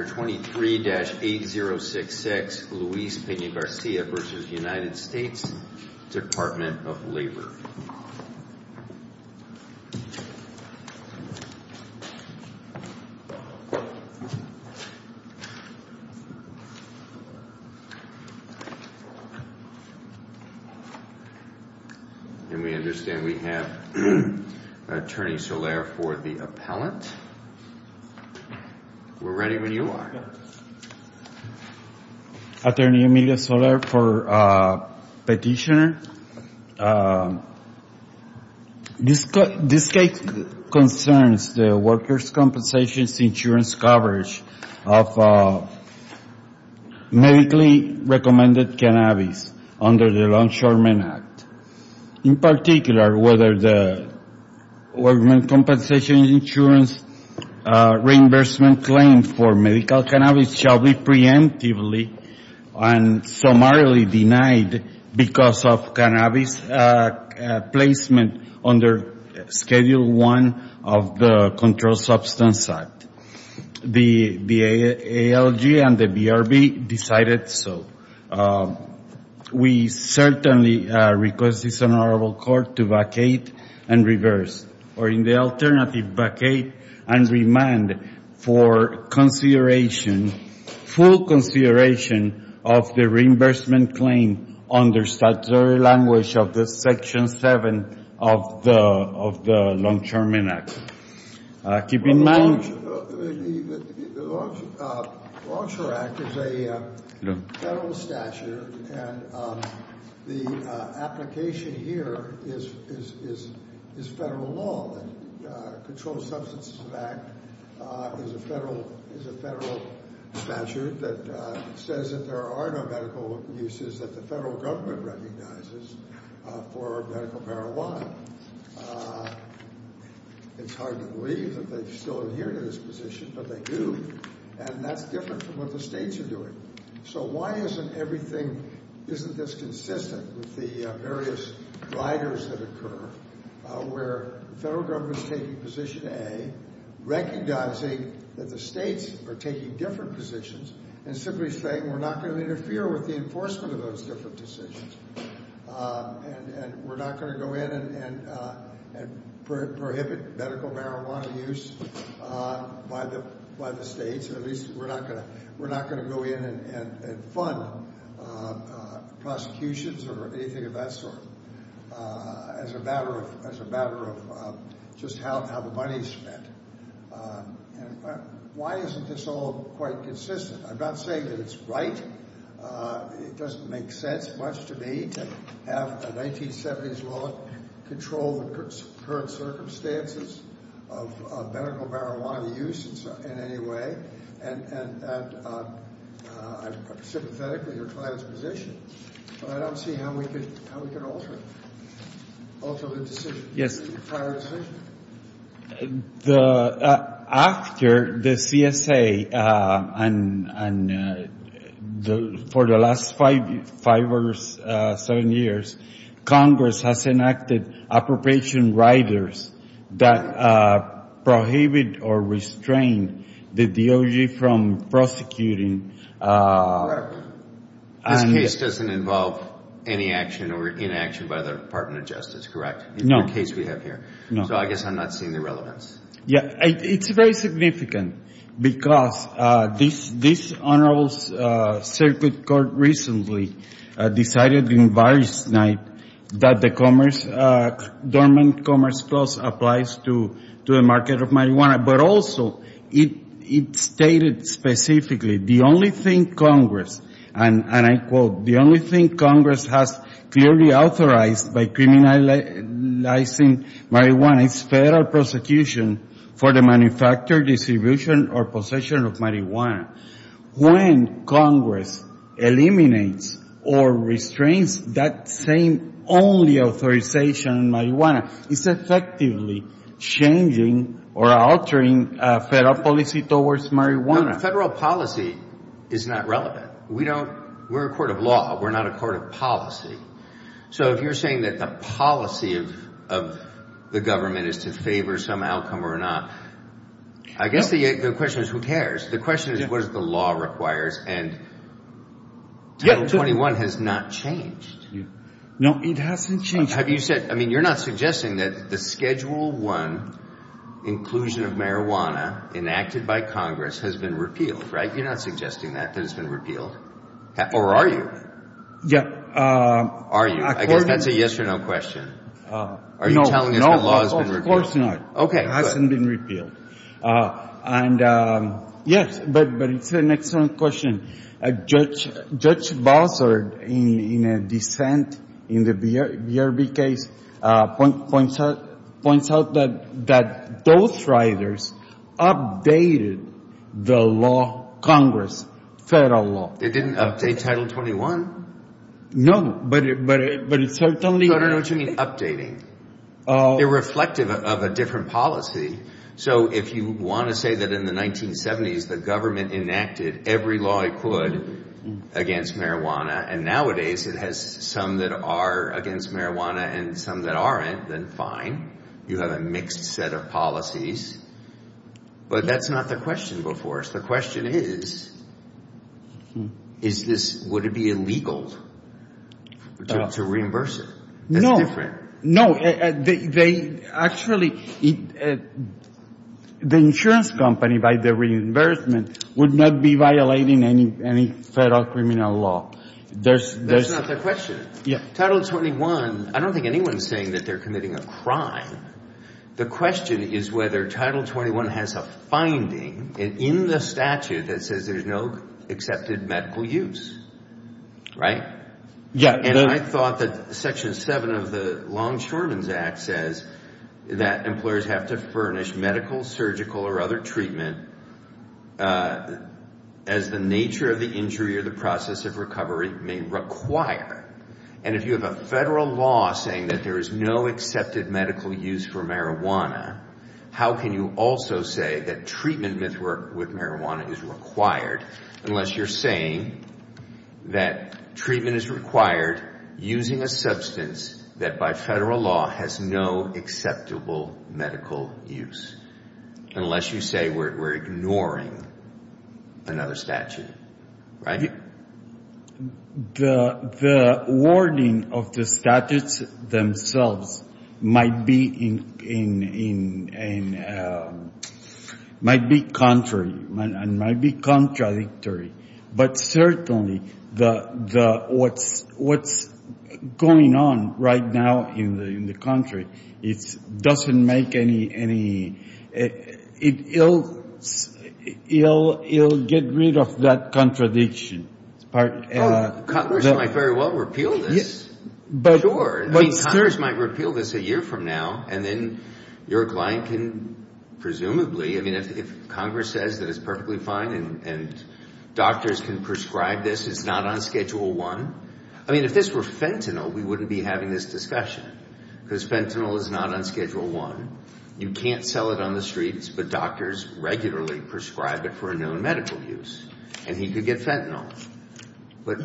23-8066 Luis Pena Garcia v. United States Department of Labor. And we understand we have Attorney Soler for the appellant. We're ready when you are. Attorney Emilia Soler for Petitioner. This case concerns the workers' compensation insurance coverage of medically-recommended cannabis under the Law Ensurement Act. In particular, whether the workers' compensation insurance reimbursement claim for medical cannabis shall be preemptively and summarily denied because of cannabis placement under Schedule I of the Controlled Substances Act. The ALG and the BRB decided so. We certainly request this Honorable Court to vacate and reverse, or in the alternative, vacate and remand for consideration, full consideration, of the reimbursement claim under statutory language of Section 7 of the Law Ensurement Act. The Law Ensurement Act is a federal statute, and the application here is federal law. The Controlled Substances Act is a federal statute that says that there are no medical uses that the federal government recognizes for medical marijuana. It's hard to believe that they still adhere to this position, but they do. And that's different from what the states are doing. So why isn't everything, isn't this consistent with the various riders that occur, where the federal government is taking position A, recognizing that the states are taking different positions, and simply saying we're not going to interfere with the enforcement of those different decisions. And we're not going to go in and prohibit medical marijuana use by the states, at least we're not going to go in and fund prosecutions or anything of that sort as a matter of just how the money is spent. Why isn't this all quite consistent? I'm not saying that it's right. It doesn't make sense much to me to have a 1970s law that controlled the current circumstances of medical marijuana use in any way, and I'm sympathetic to your client's position, but I don't see how we could alter it, alter the decision, the prior decision. After the CSA, and for the last five or seven years, Congress has enacted appropriation riders that prohibit or restrain the DOJ from prosecuting. This case doesn't involve any action or inaction by the Department of Justice, correct? No. In the current case we have here. So I guess I'm not seeing the relevance. Yeah. It's very significant because this Honorable Circuit Court recently decided in Varys night that the Commerce, Dormant Commerce Clause applies to the market of marijuana, but also it stated specifically the only thing Congress, and I quote, the only thing Congress has clearly authorized by criminalizing marijuana is federal prosecution for the manufacture, distribution, or possession of marijuana. When Congress eliminates or restrains that same only authorization in marijuana, it's effectively changing or altering federal policy towards marijuana. Federal policy is not relevant. We don't, we're a court of law. We're not a court of policy. So if you're saying that the policy of the government is to favor some outcome or not, I guess the question is who cares. The question is what does the law requires, and Title 21 has not changed. No, it hasn't changed. Have you said, I mean, you're not suggesting that the Schedule I inclusion of marijuana enacted by Congress has been repealed, right? You're not suggesting that it has been repealed, or are you? Yeah. Are you? I guess that's a yes or no question. Are you telling us the law has been repealed? No, of course not. Okay, good. It hasn't been repealed. Yes, but it's an excellent question. Judge Bowser, in a dissent in the BRB case, points out that those riders updated the law, Congress, federal law. It didn't update Title 21? No, but it certainly. No, no, no, what you mean updating? They're reflective of a different policy. So if you want to say that in the 1970s the government enacted every law it could against marijuana, and nowadays it has some that are against marijuana and some that aren't, then fine. You have a mixed set of policies. But that's not the question before us. The question is, is this, would it be illegal to reimburse it? No. That's different. No, they actually, the insurance company, by the reimbursement, would not be violating any federal criminal law. That's not the question. Title 21, I don't think anyone's saying that they're committing a crime. The question is whether Title 21 has a finding in the statute that says there's no accepted medical use, right? Yeah. And I thought that Section 7 of the Longshoremen's Act says that employers have to furnish medical, surgical, or other treatment as the nature of the injury or the process of recovery may require. And if you have a federal law saying that there is no accepted medical use for marijuana, how can you also say that treatment with marijuana is required, unless you're saying that treatment is required using a substance that by federal law has no acceptable medical use, unless you say we're ignoring another statute, right? The wording of the statutes themselves might be contrary and might be contradictory. But certainly, what's going on right now in the country, it doesn't make any, it'll get rid of that contradiction. Congress might very well repeal this. Congress might repeal this a year from now, and then your client can presumably, I mean, if Congress says that it's perfectly fine and doctors can prescribe this, it's not on Schedule 1. I mean, if this were fentanyl, we wouldn't be having this discussion, because fentanyl is not on Schedule 1. You can't sell it on the streets, but doctors regularly prescribe it for a known medical use, and he could get fentanyl. But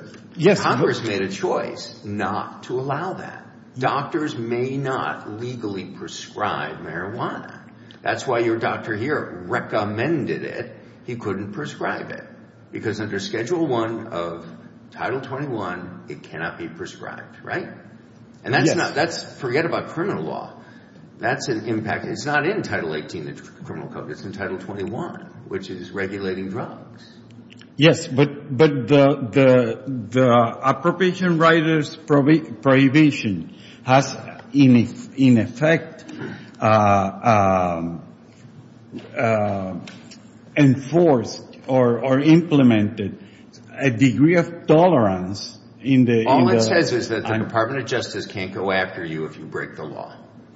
Congress made a choice not to allow that. Doctors may not legally prescribe marijuana. That's why your doctor here recommended it. He couldn't prescribe it, because under Schedule 1 of Title 21, it cannot be prescribed, right? And that's not, forget about criminal law. That's an impact. It's not in Title 18 of the Criminal Code. It's in Title 21, which is regulating drugs. Yes, but the appropriation writer's prohibition has, in effect, enforced or implemented a degree of tolerance in the- All it says is that the Department of Justice can't go after you if you break the law.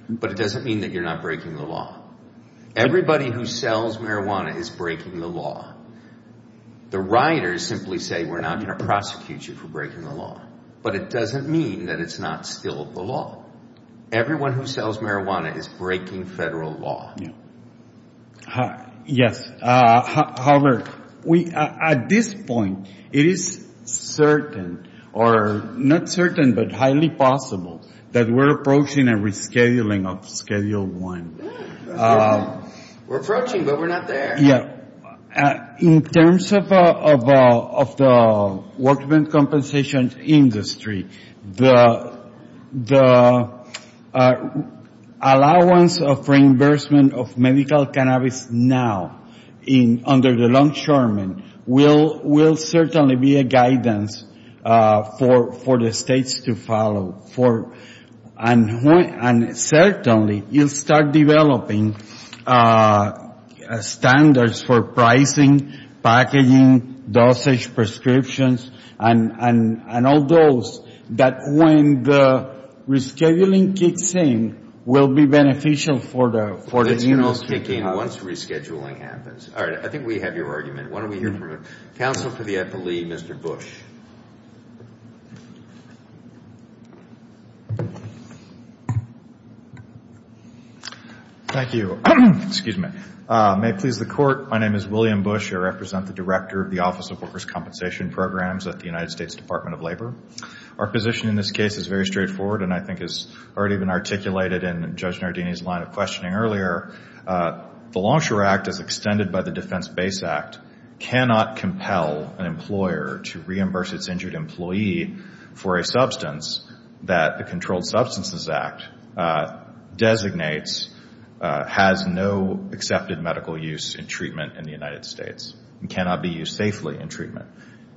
But it doesn't mean that you're not breaking the law. Everybody who sells marijuana is breaking the law. The writers simply say, we're not going to prosecute you for breaking the law. But it doesn't mean that it's not still the law. Everyone who sells marijuana is breaking federal law. Yes, however, at this point, it is certain, or not certain, but highly possible, that we're approaching a rescheduling of Schedule 1. We're approaching, but we're not there. In terms of the workmen's compensation industry, the allowance of reimbursement of medical cannabis now under the longshoremen will certainly be a guidance for the states to follow. And certainly, you'll start developing standards for pricing, packaging, dosage, prescriptions, and all those, that when the rescheduling kicks in, will be beneficial for the industry to have. It's going to all kick in once rescheduling happens. All right, I think we have your argument. Why don't we hear from counsel for the FLE, Mr. Bush. Thank you. May it please the Court, my name is William Bush. I represent the Director of the Office of Workers' Compensation Programs at the United States Department of Labor. Our position in this case is very straightforward, and I think has already been articulated in Judge Nardini's line of questioning earlier. The Longshore Act, as extended by the Defense Base Act, cannot compel an employer to reimburse its injured employee for a substance that the Controlled Substances Act designates has no accepted medical use in treatment in the United States and cannot be used safely in treatment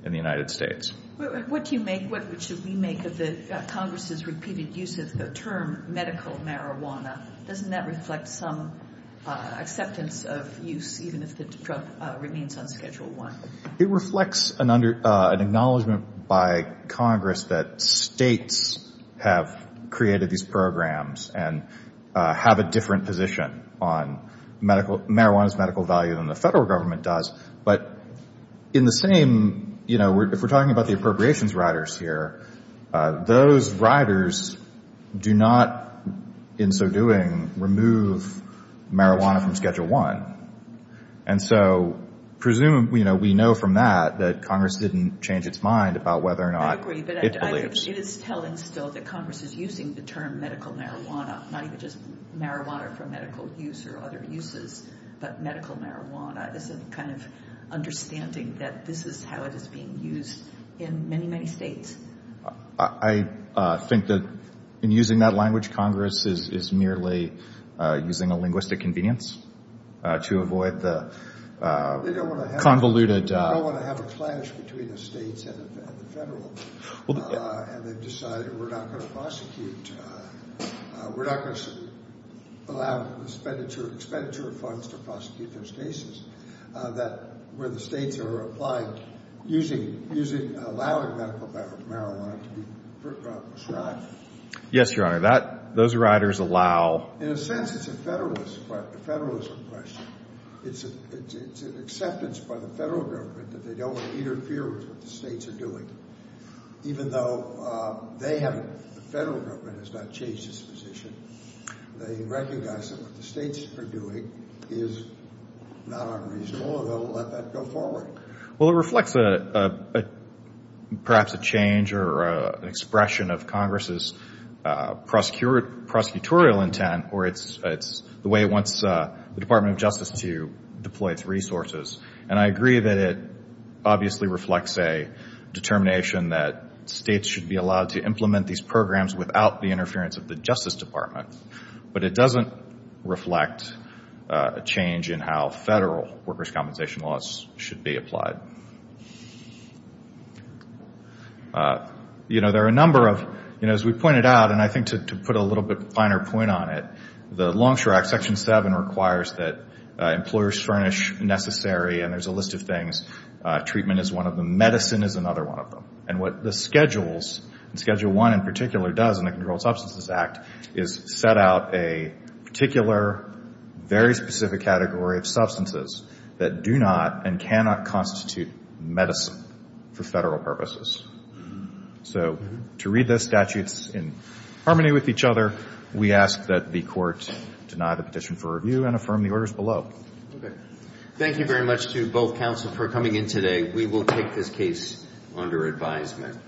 in the United States. What should we make of Congress's repeated use of the term medical marijuana? Doesn't that reflect some acceptance of use, even if the drug remains on Schedule I? It reflects an acknowledgment by Congress that states have created these programs and have a different position on marijuana's medical value than the federal government does. But in the same, you know, if we're talking about the appropriations riders here, those riders do not in so doing remove marijuana from Schedule I. And so presumably, you know, we know from that that Congress didn't change its mind about whether or not it believes. I agree, but it is telling still that Congress is using the term medical marijuana, not even just marijuana for medical use or other uses, but medical marijuana as a kind of understanding that this is how it is being used in many, many states. I think that in using that language, Congress is merely using a linguistic convenience to avoid the convoluted. They don't want to have a clash between the states and the federal. And they've decided we're not going to prosecute. We're not going to allow expenditure of funds to prosecute those cases. That where the states are applying using using allowing medical marijuana to be prescribed. Yes, Your Honor, that those riders allow. In a sense, it's a federalist federalism question. It's an acceptance by the federal government that they don't want to interfere with what the states are doing, even though they haven't. The federal government has not changed its position. They recognize that what the states are doing is not unreasonable and they'll let that go forward. Well, it reflects perhaps a change or an expression of Congress's prosecutorial intent or it's the way it wants the Department of Justice to deploy its resources. And I agree that it obviously reflects a determination that states should be allowed to implement these programs without the interference of the Justice Department. But it doesn't reflect a change in how federal workers' compensation laws should be applied. You know, there are a number of, you know, as we pointed out, and I think to put a little bit finer point on it, the Longshore Act Section 7 requires that employers furnish necessary, and there's a list of things. Treatment is one of them. Medicine is another one of them. And what the schedules, Schedule I in particular, does in the Controlled Substances Act is set out a particular, very specific category of substances that do not and cannot constitute medicine for federal purposes. So to read those statutes in harmony with each other, we ask that the Court deny the petition for review and affirm the orders below. Okay. Thank you very much to both counsel for coming in today. We will take this case under advisement.